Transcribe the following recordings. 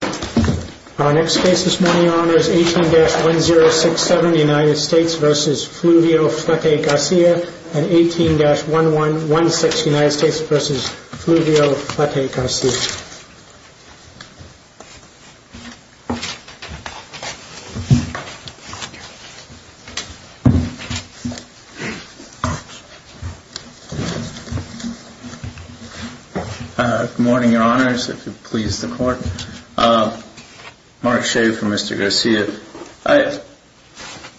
18-1067 United States v. Fluvio Flete-Garcia and 18-1116 United States v. Fluvio Flete-Garcia Good morning, your honors, if it pleases the court. Mark Shea for Mr. Garcia.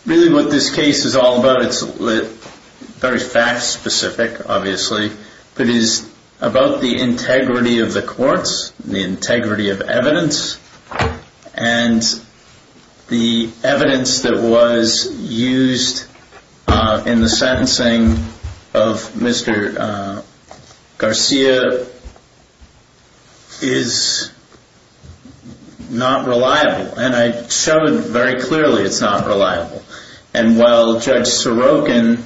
Really what this case is all about, it's very fact specific, obviously, but it is about the integrity of the courts, the integrity of evidence, and the evidence that was used in the sentencing of Mr. Garcia is not reliable. And I showed very clearly it's not reliable. And while Judge Sorokin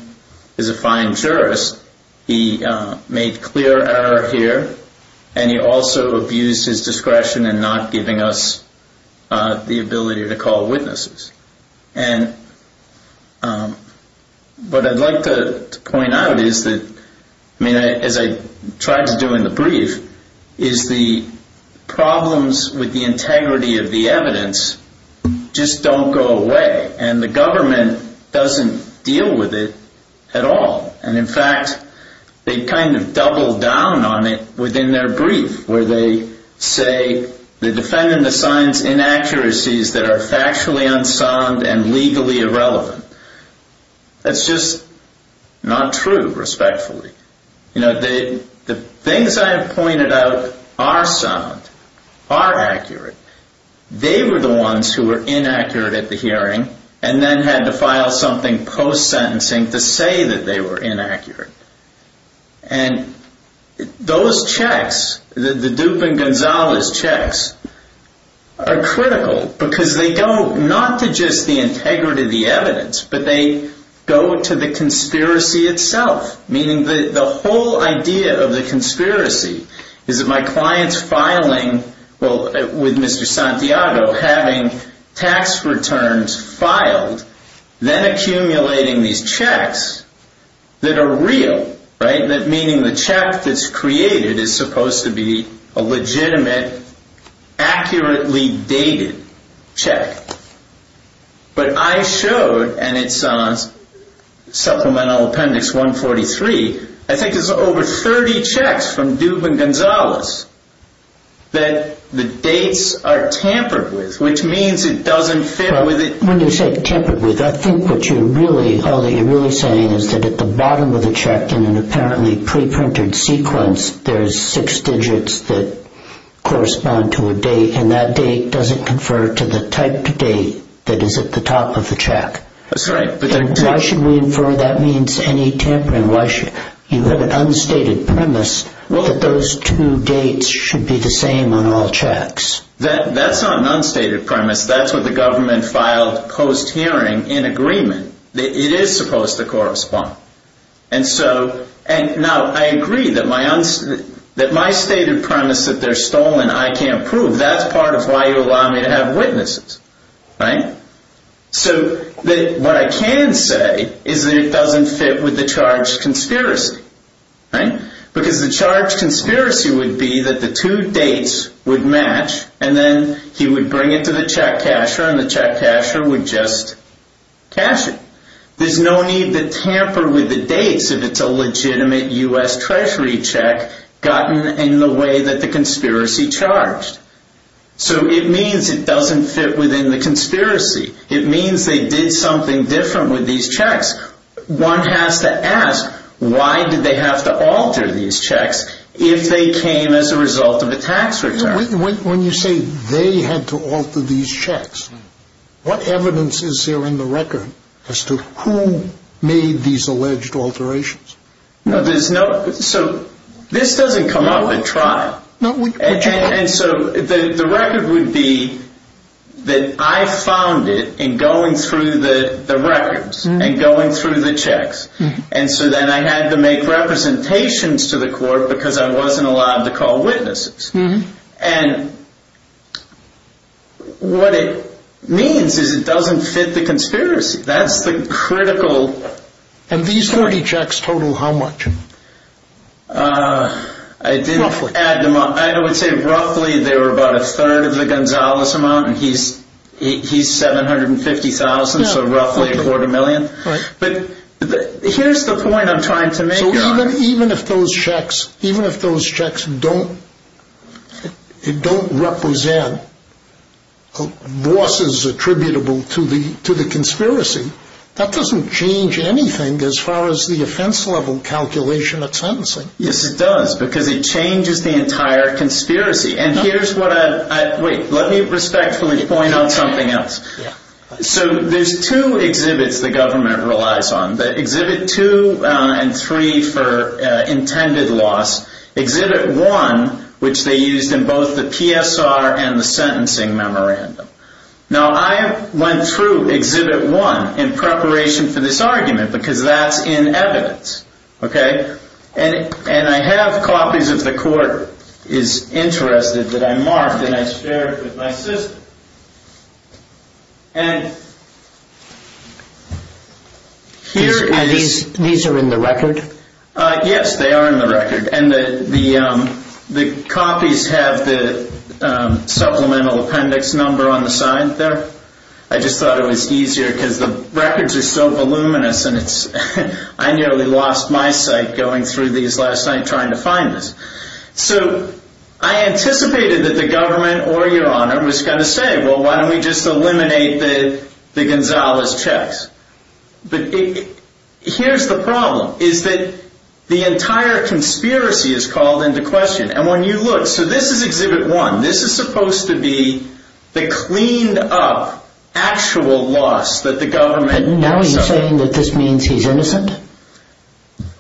is a fine jurist, he made clear error here, and he also abused his discretion in not giving us the ability to call witnesses. And what I'd like to point out is that, as I tried to do in the brief, is the problems with the integrity of the evidence just don't go away, and the government doesn't deal with it at all. And in fact, they kind of double down on it within their brief, where they say, they defend and assign inaccuracies that are factually unsound and legally irrelevant. That's just not true, respectfully. You know, the things I have pointed out are sound, are accurate. They were the ones who were inaccurate at the hearing, and then had to file something post-sentencing to say that they were inaccurate. And those checks, the Dupin-Gonzalez checks, are critical because they go not to just the integrity of the evidence, but they go to the conspiracy itself, meaning the whole idea of the conspiracy is that my client's filing, well, with Mr. Santiago, having tax returns filed, then accumulating these checks that are real, meaning the check that's created is supposed to be a legitimate, accurately dated check. But I showed, and it's Supplemental Appendix 143, I think there's over 30 checks from Dupin-Gonzalez that the dates are tampered with, which means it doesn't fit with it. When you say tampered with, I think what you're really, all that you're really saying is that at the bottom of the check, in an apparently pre-printed sequence, there's six digits that correspond to a date, and that date doesn't confer to the type of date that is at the top of the check. That's right. Why should we infer that means any tampering? You have an unstated premise that those two dates should be the same on all checks. That's not an unstated premise. That's what the government filed post-hearing in agreement. It is supposed to correspond. Now, I agree that my stated premise that they're stolen, and I can't prove, that's part of why you allow me to have witnesses, right? So what I can say is that it doesn't fit with the charge conspiracy, right? Because the charge conspiracy would be that the two dates would match, and then he would bring it to the check casher, and the check casher would just cash it. There's no need to tamper with the dates if it's a legitimate U.S. Treasury check gotten in the way that the conspiracy charged. So it means it doesn't fit within the conspiracy. It means they did something different with these checks. One has to ask, why did they have to alter these checks if they came as a result of a tax return? When you say they had to alter these checks, what evidence is there in the record as to who made these alleged alterations? No, there's no... So this doesn't come up at trial. No, but you... And so the record would be that I found it in going through the records, and going through the checks. And so then I had to make representations to the court because I wasn't allowed to call witnesses. And what it means is it doesn't fit the conspiracy. That's the critical... And these 30 checks total how much? I would say roughly they were about a third of the Gonzalez amount, and he's $750,000, so roughly a quarter million. But here's the point I'm trying to make. Even if those checks don't represent losses attributable to the conspiracy, that doesn't change anything as far as the offense level calculation of sentencing. Yes, it does, because it changes the entire conspiracy. And here's what I... Wait, let me respectfully point out something else. So there's two exhibits the government relies on, the exhibit two and three for intended loss. Exhibit one, which they used in both the PSR and the sentencing memorandum. Now I went through exhibit one in preparation for this argument, because that's in evidence. And I have copies if the court is interested that I marked and I shared with my assistant. And here is... These are in the record? Yes, they are in the record. And the copies have the supplemental appendix number on the and it's... I nearly lost my sight going through these last night trying to find this. So I anticipated that the government or your honor was going to say, well, why don't we just eliminate the Gonzalez checks? But here's the problem, is that the entire conspiracy is called into question. And when you look... So this is exhibit one. This is supposed to be the cleaned up actual loss that the government... And now you're saying that this means he's innocent?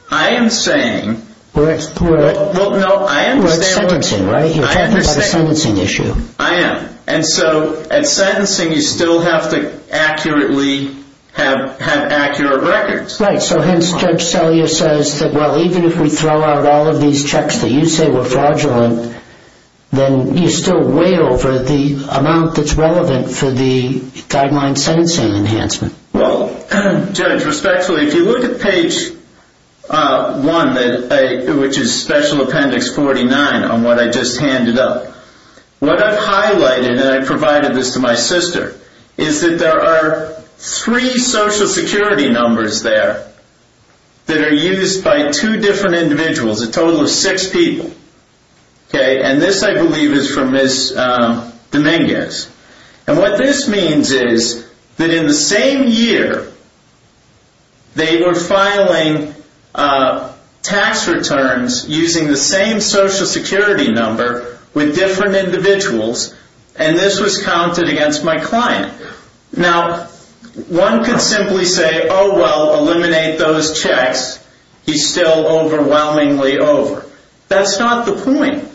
I am saying... We're at... Well, no, I understand... We're at sentencing, right? You're talking about a sentencing issue. I am. And so at sentencing, you still have to accurately have had accurate records. Right. So hence Judge Selyer says that, well, even if we throw out all of these checks that you say were fraudulent, then you're still way over the amount that's relevant for the guideline sentencing enhancement. Well, Judge, respectfully, if you look at page one, which is special appendix 49 on what I just handed up, what I've highlighted, and I provided this to my sister, is that there are three social security numbers there that are used by two different individuals, a total of six people. And this, I believe, is from Ms. Dominguez. And what this means is that in the same year, they were filing tax returns using the same social security number with different individuals, and this was counted against my client. Now, one could simply say, oh, well, eliminate those checks. He's still overwhelmingly over. That's not the point.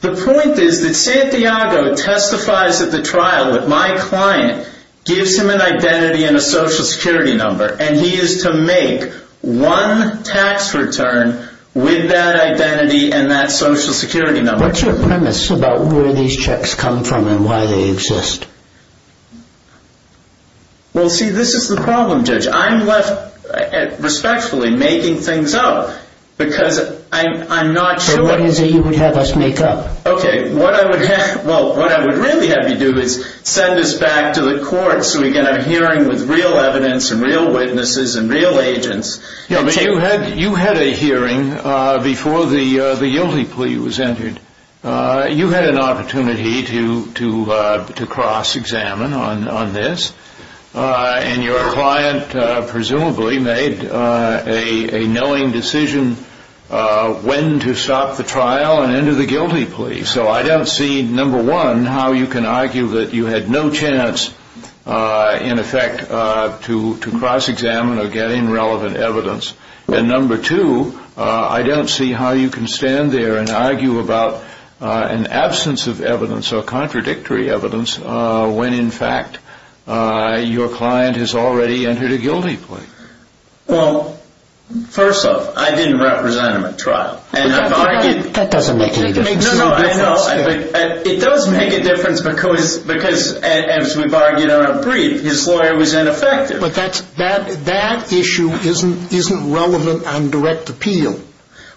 The point is that Santiago testifies at the trial with my client, gives him an identity and a social security number, and he is to make one tax return with that identity and that social security number. Now, what's your premise about where these checks come from and why they exist? Well, see, this is the problem, Judge. I'm left, respectfully, making things up because I'm not sure... So what is it you would have us make up? Okay, what I would have, well, what I would really have you do is send us back to the court so we can have a hearing with real evidence and real witnesses and real agents. Yeah, but you had a hearing before the guilty plea was entered. You had an opportunity to cross-examine on this, and your client presumably made a knowing decision when to stop the trial and enter the guilty plea. So I don't see, number one, how you can argue that you had no chance, in effect, to cross-examine or get in relevant evidence. And number two, I don't see how you can stand there and argue about an absence of evidence or contradictory evidence when, in fact, your client has already entered a guilty plea. Well, first off, I didn't represent him at trial, and I've argued... That doesn't make any difference. No, no, no, I know. It does make a difference because, as we've argued on a brief, his lawyer was ineffective. But that issue isn't relevant on direct appeal.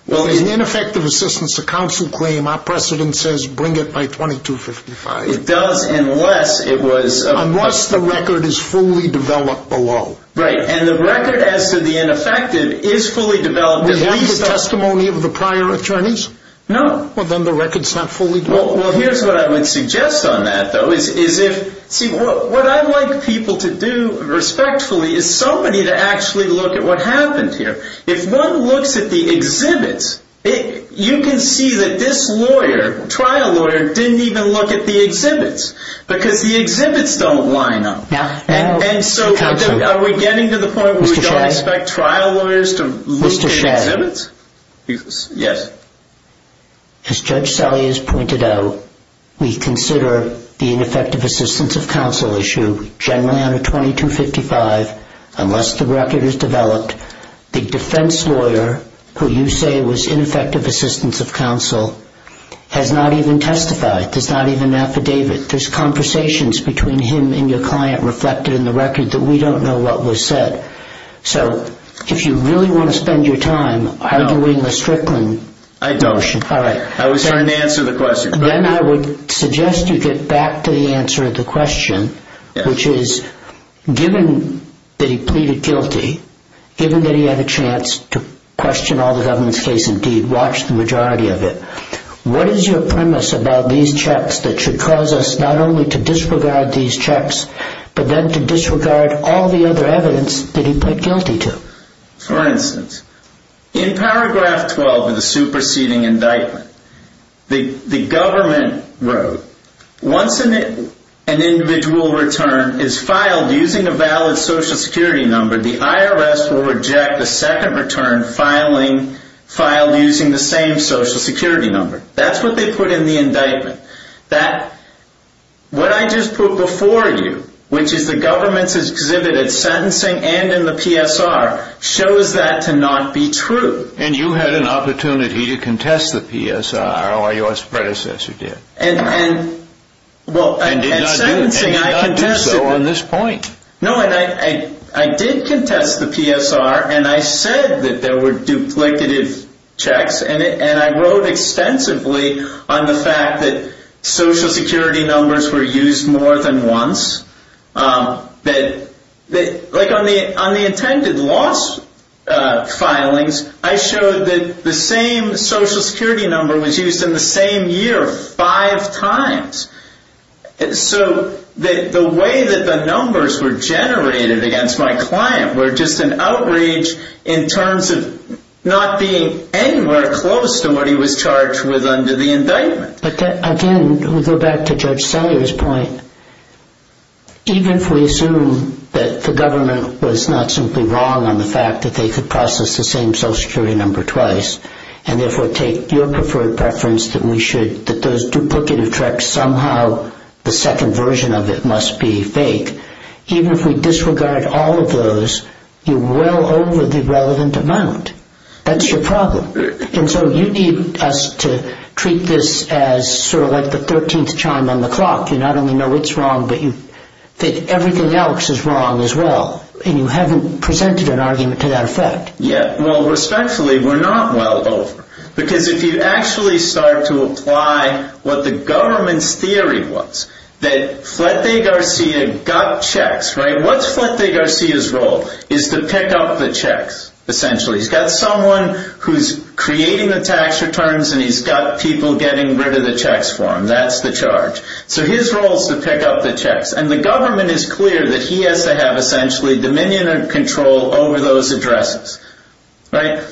Well, in ineffective assistance to counsel claim, our precedent says bring it by 2255. It does, unless it was... Unless the record is fully developed below. Right, and the record as to the ineffective is fully developed at least... Do you have the testimony of the prior attorneys? No. Well, then the record's not fully developed. Well, here's what I would suggest on that, though, is if... See, what I'd like people to do, respectfully, is somebody to actually look at what happened here. If one looks at the exhibits, you can see that this lawyer, trial lawyer, didn't even look at the exhibits because the exhibits don't line up. Yeah. And so... Counsel... Are we getting to the point where we don't expect trial lawyers to look at exhibits? Mr. Sherrod... Yes. As Judge Salia has pointed out, we consider the ineffective assistance of counsel issue generally under 2255, unless the record is developed. The defense lawyer, who you say was ineffective assistance of counsel, has not even testified. There's not even an affidavit. There's conversations between him and your client reflected in the record that we don't know what was said. So, if you really want to spend your time arguing the Strickland... No. I don't. All right. I was trying to answer the question. Then I would suggest you get back to the answer of the question, which is, given that he pleaded guilty, given that he had a chance to question all the government's case and deed, watched the majority of it, what is your premise about these checks that should cause us not only to disregard these checks, but then to disregard all the other evidence that he put guilty to? For instance, in paragraph 12 of the superseding indictment, the government wrote, once an individual return is filed using a valid social security number, the IRS will reject a second return filed using the same social security number. That's what they put in the indictment. That, what I just put before you, which is the government's exhibit at sentencing and in the PSR, shows that to not be true. And you had an opportunity to contest the PSR, or your predecessor did. And did not do so on this point. No, and I did contest the PSR, and I said that there were duplicative checks, and I wrote extensively on the fact that social security numbers were used more than once. That, like on the intended loss filings, I showed that the same social security number was used in the same year five times. So, the way that the numbers were generated against my client were just an outrage in terms of not being any more close than what he was charged with under the indictment. But again, we go back to Judge Salyer's point, even if we assume that the government was not simply wrong on the fact that they could process the same social security number twice, and therefore take your preferred preference that we should, that those duplicative checks somehow, the second version of it must be fake, even if we disregard all of those, you know, the relevant amount. That's your problem. And so you need us to treat this as sort of like the 13th chime on the clock. You not only know it's wrong, but you think everything else is wrong as well. And you haven't presented an argument to that effect. Yeah, well, respectfully, we're not well over. Because if you actually start to apply what the government's theory was, that Fletcher Garcia got checks, right? What's Fletcher Garcia's role is to pick up the checks, essentially. He's got someone who's creating the tax returns, and he's got people getting rid of the checks for him. That's the charge. So his role is to pick up the checks. And the government is clear that he has to have essentially dominion and control over those addresses, right?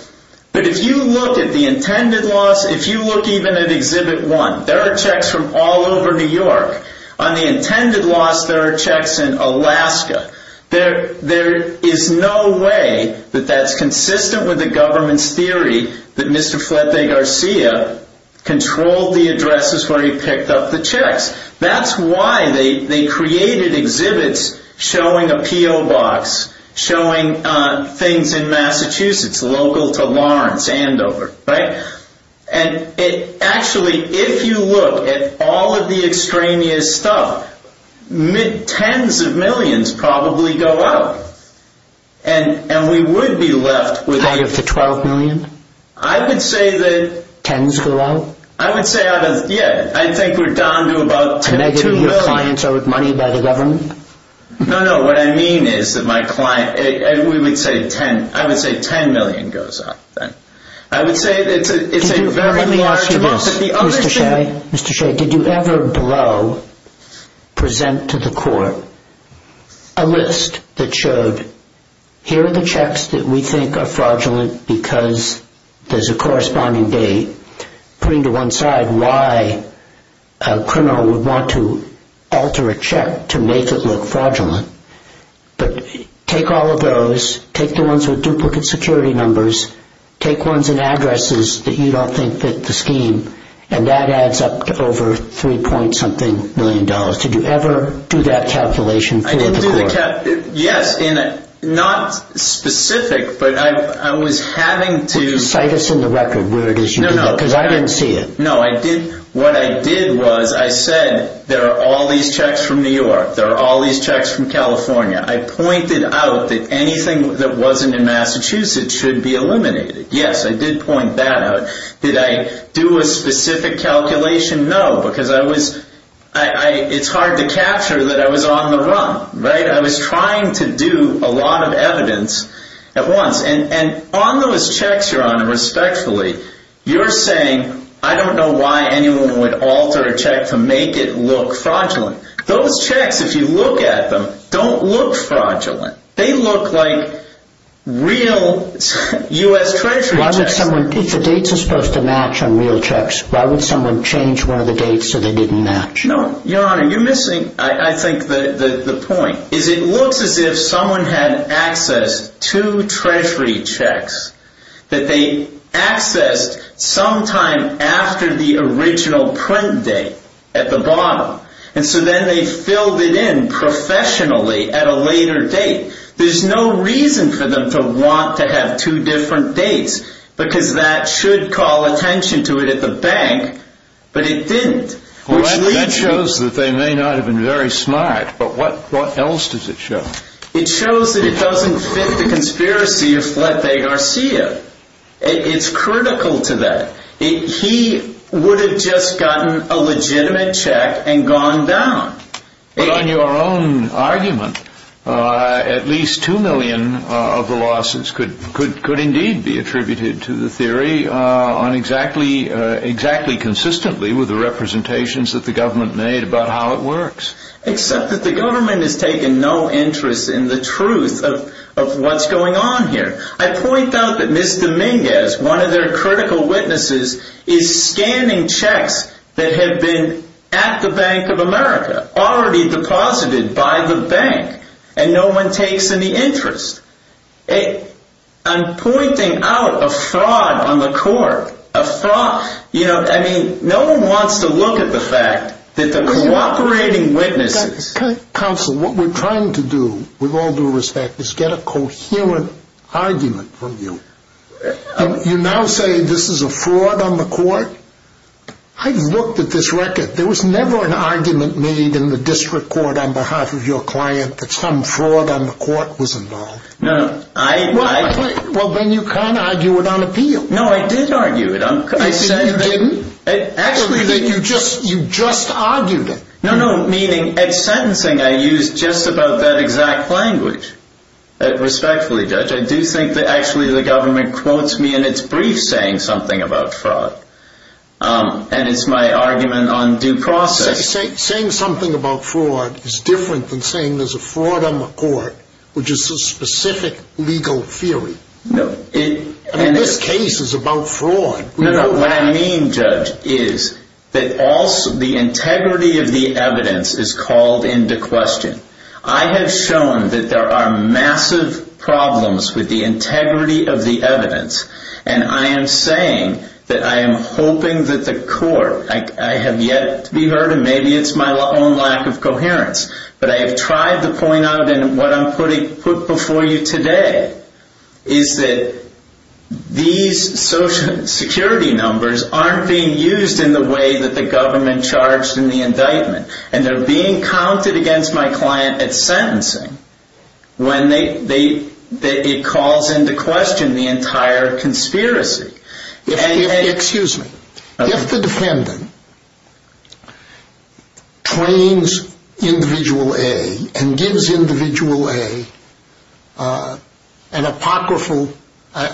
But if you look at the intended loss, if you look even at Exhibit 1, there are checks from all over New York. On the intended loss, there are checks in Alaska. There is no way that that's consistent with the government's theory that Mr. Fletcher Garcia controlled the addresses where he picked up the checks. That's why they created exhibits showing a P.O. box, showing things in Massachusetts, local to Lawrence, Andover, right? And actually, if you look at all of the extraneous stuff, tens of millions probably go out. And we would be left with... Out of the 12 million? I would say that... Tens go out? I would say out of, yeah, I think we're down to about 10 to 2 million. And your clients are with money by the government? No, no. What I mean is that my client, we would say 10, I would say 10 million goes out. I would say it's a very... Let me ask you this, Mr. Shea. Mr. Shea, did you ever below present to the court a list that showed, here are the checks that we think are fraudulent because there's a corresponding date, putting to one side why a criminal would want to alter a check to make it look fraudulent. But take all of those, take the ones with duplicate security numbers, take ones in addresses that you don't think fit the scheme, and that adds up to over 3 point something million dollars. Did you ever do that calculation for the court? I didn't do the... Yes, and not specific, but I was having to... Would you cite us in the record where it is you did that? No, no. Because I didn't see it. No, I didn't. What I did was I said, there are all these checks from New York. There are all these checks from California. I pointed out that anything that wasn't in Massachusetts should be eliminated. Yes, I did point that out. Did I do a specific calculation? No, because I was... It's hard to capture that I was on the run, right? I was trying to do a lot of evidence at once. And on those checks, Your Honor, respectfully, you're saying, I don't know why anyone would alter a check to make it look fraudulent. Those checks, if you look at them, don't look fraudulent. They look like real U.S. Treasury checks. If the dates are supposed to match on real checks, why would someone change one of the dates so they didn't match? No, Your Honor, you're missing, I think, the point. It looks as if someone had access to Treasury checks that they accessed sometime after the original print date at the bottom. And so then they filled it in professionally at a later date. There's no reason for them to want to have two different dates, because that should call attention to it at the bank, but it didn't. Well, that shows that they may not have been very smart, but what else does it show? It shows that it doesn't fit the conspiracy of Fleta Garcia. It's critical to that. He would have just gotten a legitimate check and gone down. But on your own argument, at least two million of the losses could indeed be attributed to the theory, exactly consistently with the representations that the government made about how it works. Except that the government has taken no interest in the truth of what's going on here. I point out that Ms. Dominguez, one of their critical witnesses, is scanning checks that have been at the Bank of America, already deposited by the bank, and no one takes any interest. I'm pointing out a fraud on the court, a fraud. I mean, no one wants to look at the fact that the cooperating witnesses... You now say this is a fraud on the court? I've looked at this record. There was never an argument made in the district court on behalf of your client that some fraud on the court was involved. Well, then you can't argue it on appeal. No, I did argue it. You didn't? Actually, you just argued it. No, no. Meaning, at sentencing, I used just about that exact language. Respectfully, Judge. I do think that actually the government quotes me in its brief saying something about fraud. And it's my argument on due process. Saying something about fraud is different than saying there's a fraud on the court, which is a specific legal theory. No. I mean, this case is about fraud. No, no. What I mean, Judge, is that also the integrity of the evidence is called into question. I have shown that there are massive problems with the integrity of the evidence. And I am saying that I am hoping that the court... I have yet to be heard, and maybe it's my own lack of coherence. But I have tried to point out, and what I'm putting before you today, is that these social security numbers aren't being used in the way that the government charged in the indictment. And they're being counted against my client at sentencing when it calls into question the entire conspiracy. Excuse me. If the defendant trains Individual A and gives Individual A an apocryphal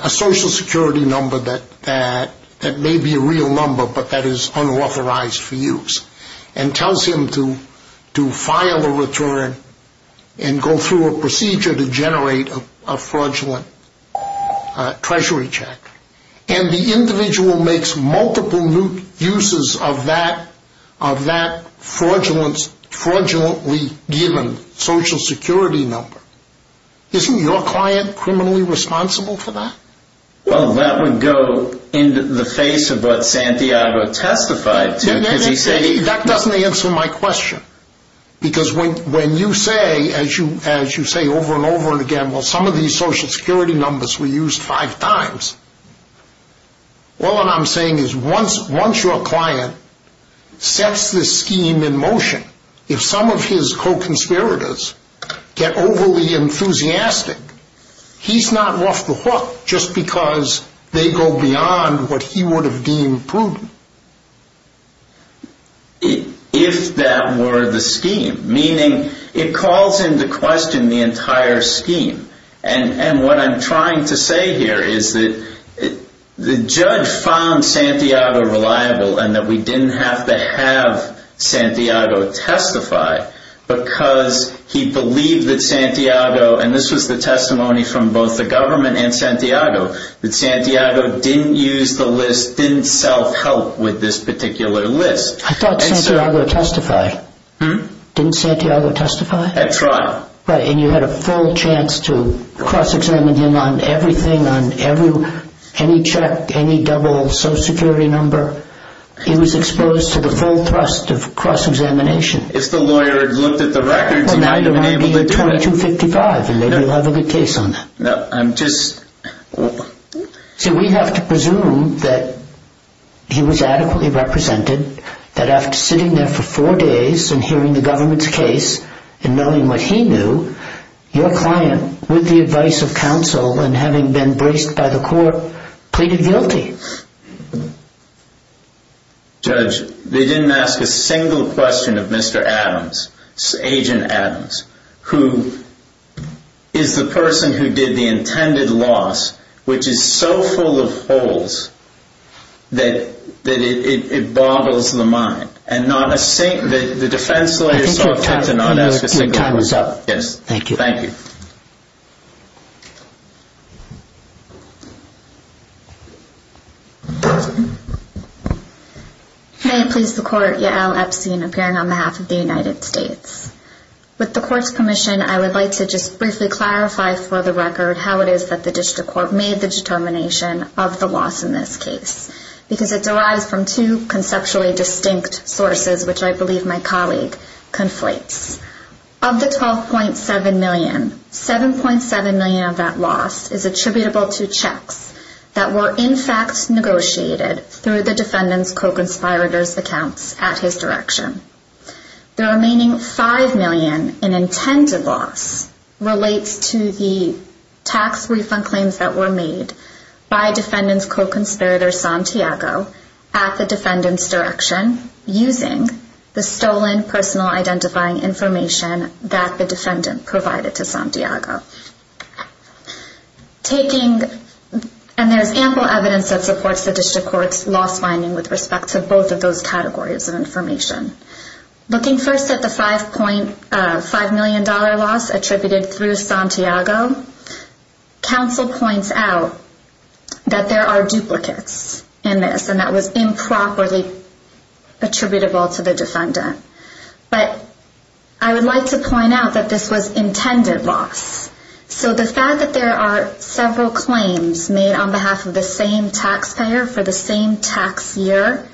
social security number that may be a real number but that is unauthorized for use and tells him to file a return and go through a procedure to generate a fraudulent treasury check, and the individual makes multiple uses of that fraudulently given social security number, isn't your client criminally responsible for that? Well, that would go in the face of what Santiago testified to. That doesn't answer my question. Because when you say, as you say over and over again, well, some of these social security numbers were used five times, all I'm saying is once your client sets this scheme in motion, if some of his co-conspirators get overly enthusiastic, he's not off the hook just because they go beyond what he would have deemed prudent. If that were the scheme, meaning it calls into question the entire scheme. And what I'm trying to say here is that the judge found Santiago reliable and that we didn't have to have Santiago testify because he believed that Santiago, and this was the testimony from both the government and Santiago, that Santiago didn't use the list, didn't self-help with this particular list. I thought Santiago testified. Didn't Santiago testify? That's right. Right, and you had a full chance to cross-examine him on everything, on any check, any double social security number. He was exposed to the full thrust of cross-examination. If the lawyer had looked at the records, he might have been able to do it. Well, now you might be at 2255 and maybe you'll have a good case on that. No, I'm just... See, we have to presume that he was adequately represented, that after sitting there for four days and hearing the government's case and knowing what he knew, your client, with the advice of counsel and having been braced by the court, pleaded guilty. Judge, they didn't ask a single question of Mr. Adams, Agent Adams, who is the person who did the intended loss, which is so full of holes that it boggles the mind. And not a single... I think your time is up. Yes. Thank you. Thank you. May it please the Court, Yael Epstein, appearing on behalf of the United States. With the Court's permission, I would like to just briefly clarify for the record how it is that the District Court made the determination of the loss in this case, because it derives from two conceptually distinct sources, which I believe my colleague conflates. Of the $12.7 million, $7.7 million of that loss is attributable to checks that were in fact negotiated through the defendant's co-conspirator's accounts at his direction. The remaining $5 million in intended loss relates to the tax refund claims that were made by defendant's co-conspirator Santiago at the defendant's direction using the stolen personal identifying information that the defendant provided to Santiago. Taking... And there's ample evidence that supports the District Court's loss finding with respect to both of those categories of information. Looking first at the $5 million loss attributed through Santiago, counsel points out that there are duplicates in this and that was improperly attributable to the defendant. But I would like to point out that this was intended loss. So the fact that there are several claims made on behalf of the same taxpayer for the same tax year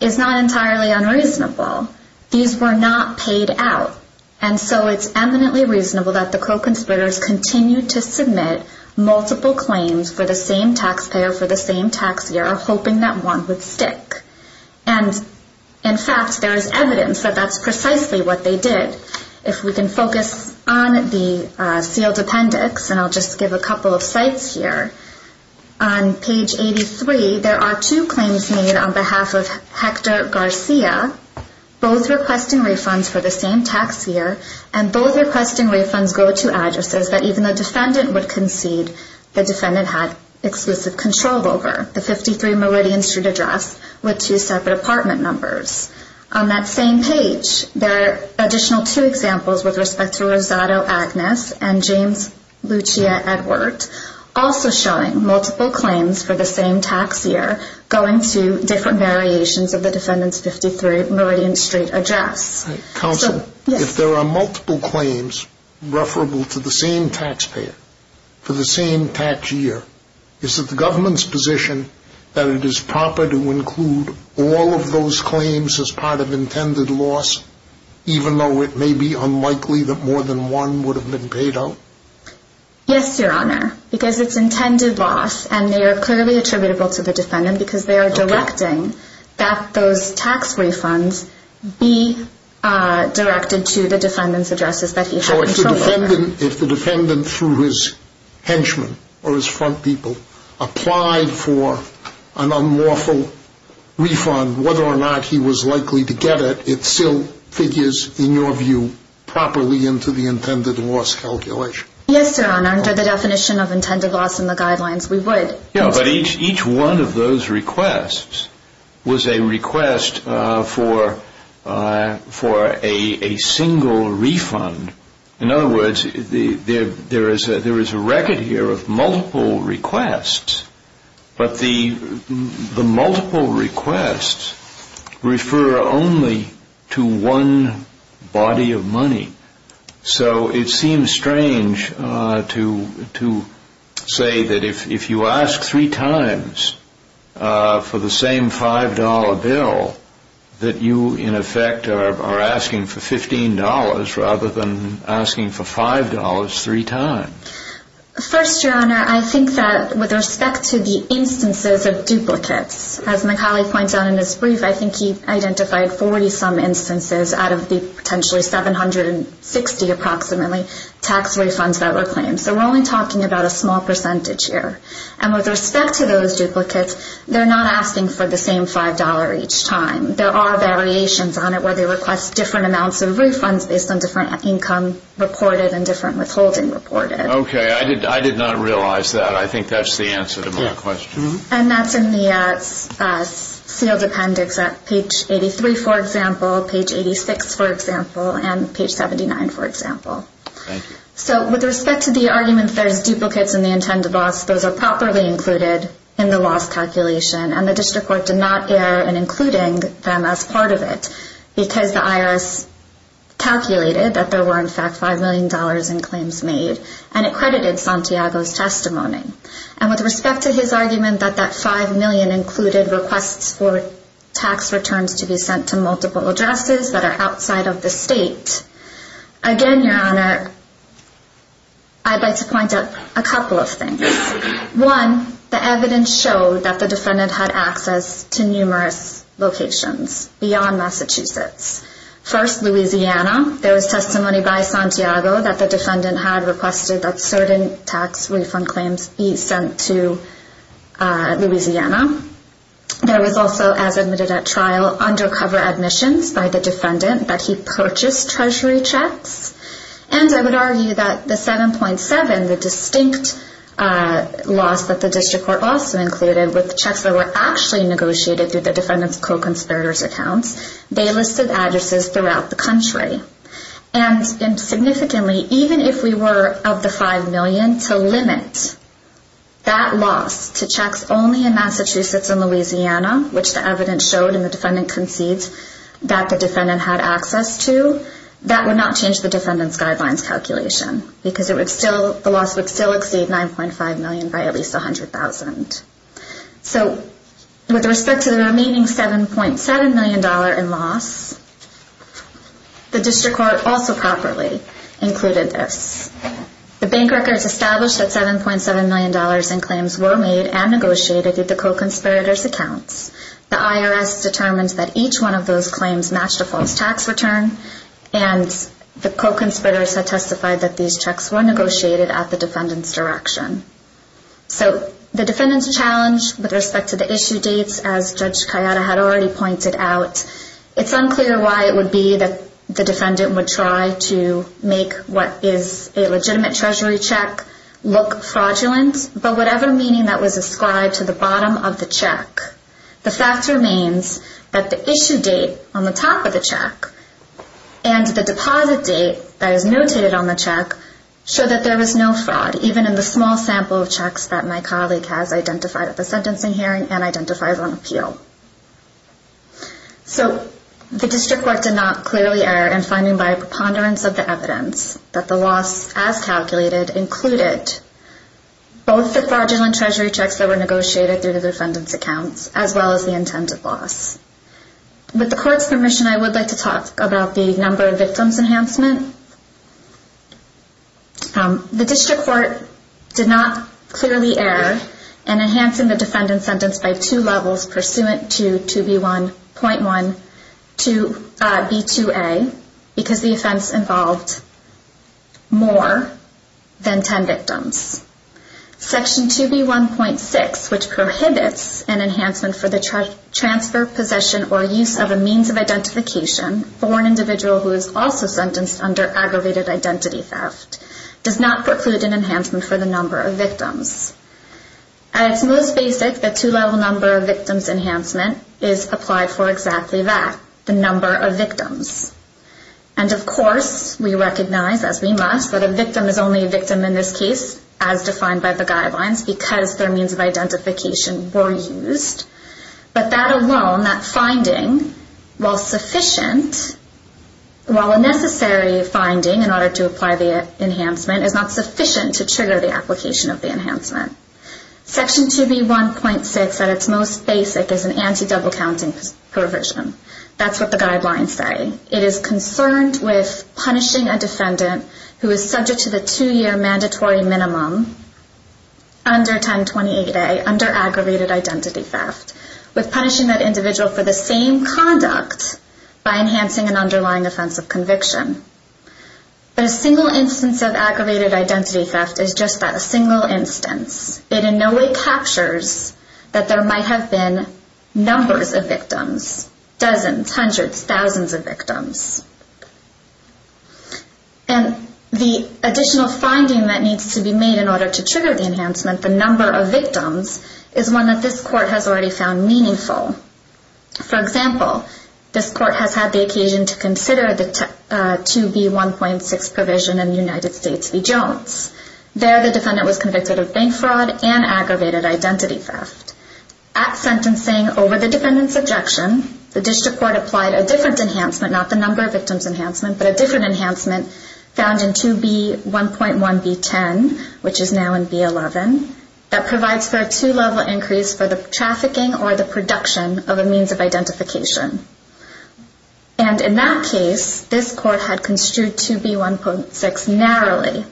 is not entirely unreasonable. These were not paid out. And so it's eminently reasonable that the co-conspirators continued to submit multiple claims for the same taxpayer for the same tax year, hoping that one would stick. And in fact, there is evidence that that's precisely what they did. If we can focus on the sealed appendix, and I'll just give a couple of sites here. On page 83, there are two claims made on behalf of Hector Garcia, both requesting refunds for the same tax year, and both requesting refunds go to addresses that even the defendant would concede the defendant had exclusive control over. The 53 Meridian Street address with two separate apartment numbers. On that same page, there are additional two examples with respect to Rosado Agnes and James Lucia Edward, also showing multiple claims for the same tax year going to different variations of the defendant's 53 Meridian Street address. Counsel, if there are multiple claims referable to the same taxpayer for the same tax year, is it the government's position that it is proper to include all of those claims as part of intended loss, even though it may be unlikely that more than one would have been paid out? Yes, Your Honor, because it's intended loss, and they are clearly attributable to the defendant because they are directing that those tax refunds be directed to the defendant's addresses that he had control over. Even if the defendant, through his henchmen or his front people, applied for an unlawful refund, whether or not he was likely to get it, it still figures, in your view, properly into the intended loss calculation. Yes, Your Honor, under the definition of intended loss in the guidelines, we would. But each one of those requests was a request for a single refund. In other words, there is a record here of multiple requests, but the multiple requests refer only to one body of money. So it seems strange to say that if you ask three times for the same $5 bill, that you, in effect, are asking for $15 rather than asking for $5 three times. First, Your Honor, I think that with respect to the instances of duplicates, as my colleague points out in his brief, I think he identified 40-some instances out of the potentially 760, approximately, tax refunds that were claimed. So we're only talking about a small percentage here. And with respect to those duplicates, they're not asking for the same $5 each time. There are variations on it where they request different amounts of refunds based on different income reported and different withholding reported. Okay, I did not realize that. I think that's the answer to my question. And that's in the sealed appendix at page 83, for example, page 86, for example, and page 79, for example. Thank you. So with respect to the argument that there's duplicates in the intended loss, those are properly included in the loss calculation, and the district court did not err in including them as part of it because the IRS calculated that there were, in fact, $5 million in claims made and accredited Santiago's testimony. And with respect to his argument that that $5 million included requests for tax returns to be sent to multiple addresses that are outside of the state, again, Your Honor, I'd like to point out a couple of things. One, the evidence showed that the defendant had access to numerous locations beyond Massachusetts. First, Louisiana. There was testimony by Santiago that the defendant had requested that certain tax refund claims be sent to Louisiana. There was also, as admitted at trial, undercover admissions by the defendant that he purchased treasury checks. And I would argue that the 7.7, the distinct loss that the district court also included with the checks that were actually negotiated through the defendant's co-conspirator's accounts, they listed addresses throughout the country. And significantly, even if we were of the $5 million, to limit that loss to checks only in Massachusetts and Louisiana, which the evidence showed and the defendant concedes that the defendant had access to, that would not change the defendant's guidelines calculation because the loss would still exceed $9.5 million by at least $100,000. So with respect to the remaining $7.7 million in loss, the district court also properly included this. The bank records established that $7.7 million in claims were made and negotiated through the co-conspirator's accounts. The IRS determined that each one of those claims matched a false tax return, and the co-conspirators had testified that these checks were negotiated at the defendant's direction. So the defendant's challenge with respect to the issue dates, as Judge Kayada had already pointed out, it's unclear why it would be that the defendant would try to make what is a legitimate treasury check look fraudulent, but whatever meaning that was ascribed to the bottom of the check, the fact remains that the issue date on the top of the check and the deposit date that is notated on the check show that there was no fraud, even in the small sample of checks that my colleague has identified at the sentencing hearing and identifies on appeal. So the district court did not clearly err in finding by a preponderance of the evidence that the loss as calculated included both the fraudulent treasury checks that were negotiated through the defendant's accounts, as well as the intended loss. With the court's permission, I would like to talk about the number of victims enhancement. The district court did not clearly err in enhancing the defendant's sentence by two levels, pursuant to 2B1.1 to B2A, because the offense involved more than 10 victims. Section 2B1.6, which prohibits an enhancement for the transfer, possession, or use of a means of identification for an individual who is also sentenced under aggravated identity theft, does not preclude an enhancement for the number of victims. At its most basic, the two-level number of victims enhancement is applied for exactly that, the number of victims. And of course, we recognize, as we must, that a victim is only a victim in this case, as defined by the guidelines, because their means of identification were used. But that alone, that finding, while sufficient, while a necessary finding in order to apply the enhancement, is not sufficient to trigger the application of the enhancement. Section 2B1.6, at its most basic, is an anti-double-counting provision. That's what the guidelines say. It is concerned with punishing a defendant who is subject to the two-year mandatory minimum under 1028A, under aggravated identity theft, with punishing that individual for the same conduct by enhancing an underlying offense of conviction. But a single instance of aggravated identity theft is just that, a single instance. It in no way captures that there might have been numbers of victims, dozens, hundreds, thousands of victims. And the additional finding that needs to be made in order to trigger the enhancement, the number of victims, is one that this Court has already found meaningful. For example, this Court has had the occasion to consider the 2B1.6 provision in United States v. Jones. There, the defendant was convicted of bank fraud and aggravated identity theft. At sentencing, over the defendant's objection, the District Court applied a different enhancement, not the number of victims enhancement, but a different enhancement found in 2B1.1 v. 10, which is now in v. 11, that provides for a two-level increase for the trafficking or the production of a means of identification. And in that case, this Court had construed 2B1.6 narrowly,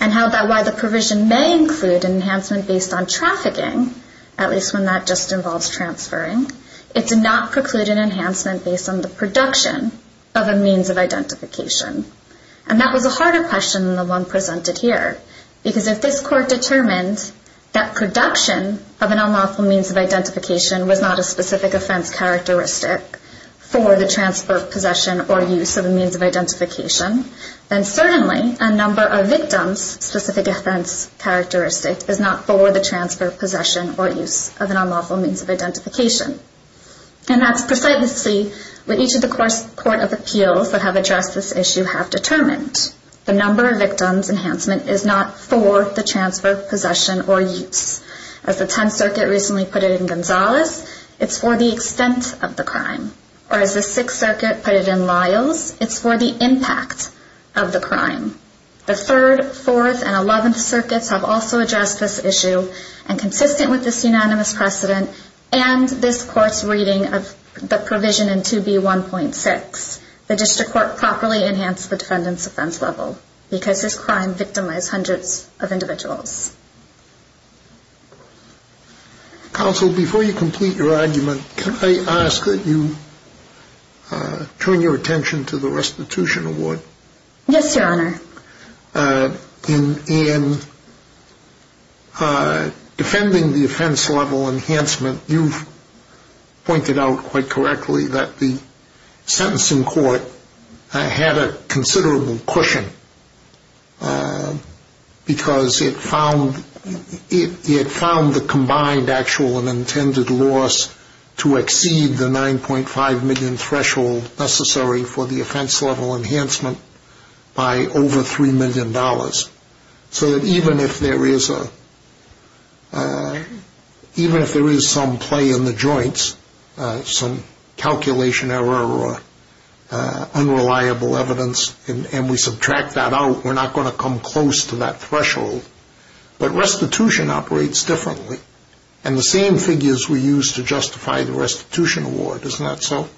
and held that while the provision may include an enhancement based on trafficking, at least when that just involves transferring, it did not preclude an enhancement based on the production of a means of identification. And that was a harder question than the one presented here, because if this Court determined that production of an unlawful means of identification was not a specific offense characteristic for the transfer of possession or use of a means of identification, then certainly a number of victims' specific offense characteristic is not for the transfer of possession or use of an unlawful means of identification. And that's precisely what each of the Court of Appeals that have addressed this issue have determined. The number of victims enhancement is not for the transfer of possession or use. As the Tenth Circuit recently put it in Gonzales, it's for the extent of the crime. Or as the Sixth Circuit put it in Lyles, it's for the impact of the crime. The Third, Fourth, and Eleventh Circuits have also addressed this issue, and consistent with this unanimous precedent and this Court's reading of the provision in 2B1.6, the district court properly enhanced the defendant's offense level because this crime victimized hundreds of individuals. Counsel, before you complete your argument, can I ask that you turn your attention to the restitution award? Yes, Your Honor. In defending the offense level enhancement, you've pointed out quite correctly that the sentencing court had a considerable cushion because it found the combined actual and intended loss to exceed the $9.5 million threshold necessary for the offense level enhancement by over $3 million. So that even if there is some play in the joints, some calculation error or unreliable evidence, and we subtract that out, we're not going to come close to that threshold. But restitution operates differently. And the same figures were used to justify the restitution award. Isn't that so?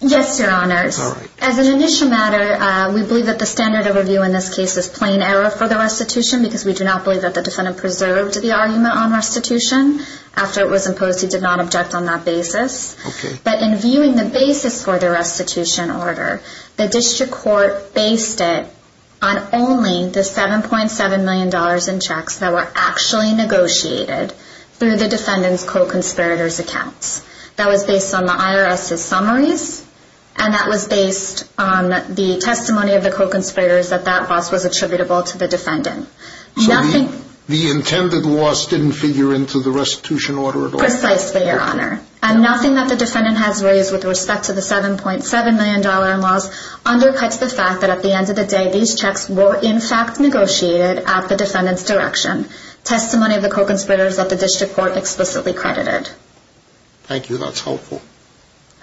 Yes, Your Honors. As an initial matter, we believe that the standard of review in this case is plain error for the restitution because we do not believe that the defendant preserved the argument on restitution. After it was imposed, he did not object on that basis. But in viewing the basis for the restitution order, the district court based it on only the $7.7 million in checks that were actually negotiated through the defendant's co-conspirator's accounts. That was based on the IRS's summaries, and that was based on the testimony of the co-conspirators that that loss was attributable to the defendant. So the intended loss didn't figure into the restitution order at all? Precisely, Your Honor. And nothing that the defendant has raised with respect to the $7.7 million loss undercuts the fact that at the end of the day, these checks were in fact negotiated at the defendant's direction. Testimony of the co-conspirators that the district court explicitly credited. Thank you. That's helpful.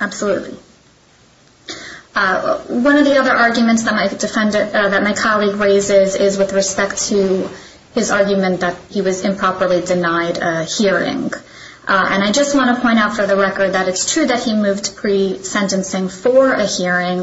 Absolutely. One of the other arguments that my colleague raises is with respect to his argument that he was improperly denied a hearing. And I just want to point out for the record that it's true that he moved pre-sentencing for a hearing,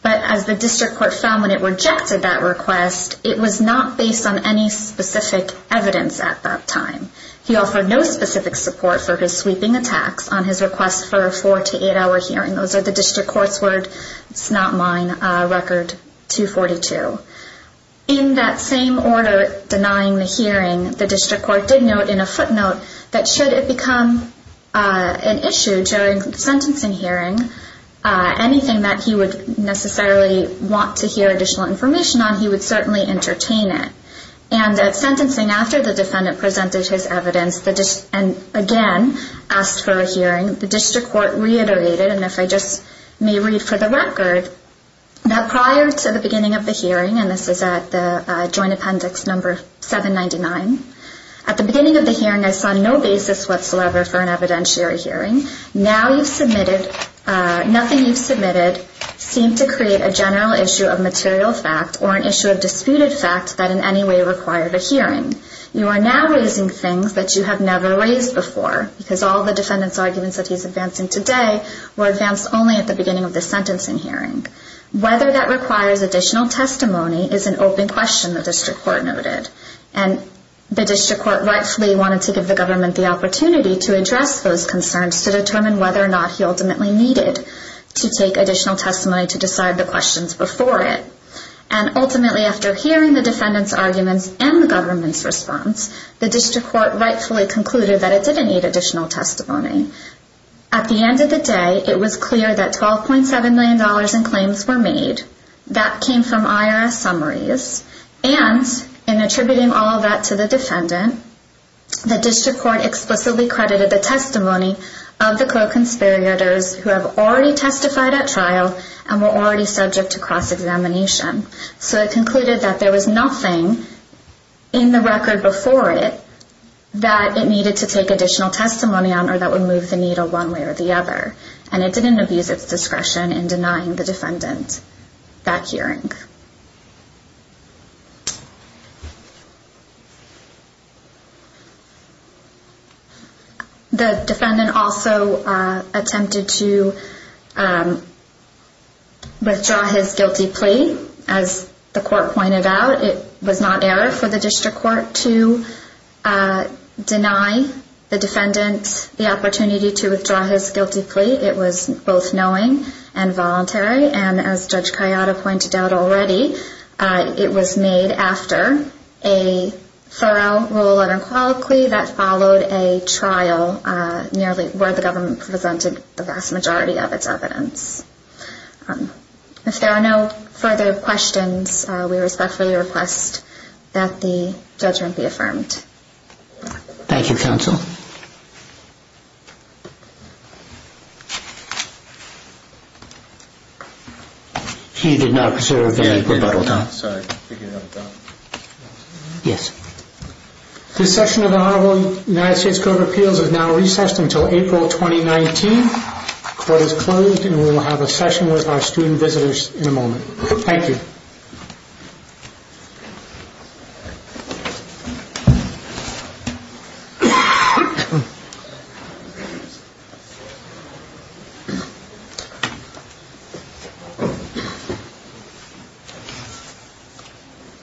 but as the district court found when it rejected that request, it was not based on any specific evidence at that time. He offered no specific support for his sweeping attacks on his request for a four- to eight-hour hearing. Those are the district court's word. It's not mine. Record 242. In that same order denying the hearing, the district court did note in a footnote that should it become an issue during sentencing hearing, anything that he would necessarily want to hear additional information on, he would certainly entertain it. And at sentencing, after the defendant presented his evidence and again asked for a hearing, the district court reiterated, and if I just may read for the record, that prior to the beginning of the hearing, and this is at the Joint Appendix No. 799, at the beginning of the hearing I saw no basis whatsoever for an evidentiary hearing. Now you've submitted, nothing you've submitted seemed to create a general issue of material fact or an issue of disputed fact that in any way required a hearing. You are now raising things that you have never raised before because all the defendant's arguments that he's advancing today were advanced only at the beginning of the sentencing hearing. Whether that requires additional testimony is an open question, the district court noted. And the district court rightfully wanted to give the government the opportunity to address those concerns to determine whether or not he ultimately needed to take additional testimony to decide the questions before it. And ultimately after hearing the defendant's arguments and the government's response, the district court rightfully concluded that it didn't need additional testimony. At the end of the day, it was clear that $12.7 million in claims were made. That came from IRS summaries. And in attributing all that to the defendant, the district court explicitly credited the testimony of the co-conspirators who have already testified at trial and were already subject to cross-examination. So it concluded that there was nothing in the record before it that it needed to take additional testimony on or that would move the needle one way or the other. And it didn't abuse its discretion in denying the defendant that hearing. The defendant also attempted to withdraw his guilty plea. As the court pointed out, it was not error for the district court to deny the defendant the opportunity to withdraw his guilty plea. It was both knowing and voluntary. And as Judge Kayada pointed out already, it was made after a thorough rule unequivocally that followed a trial where the government presented the vast majority of its evidence. If there are no further questions, we respectfully request that the judgment be affirmed. Thank you, counsel. He did not observe any rebuttal. This session of the Honorable United States Court of Appeals is now recessed until April 2019. Court is closed and we will have a session with our student visitors in a moment. Thank you. Thank you.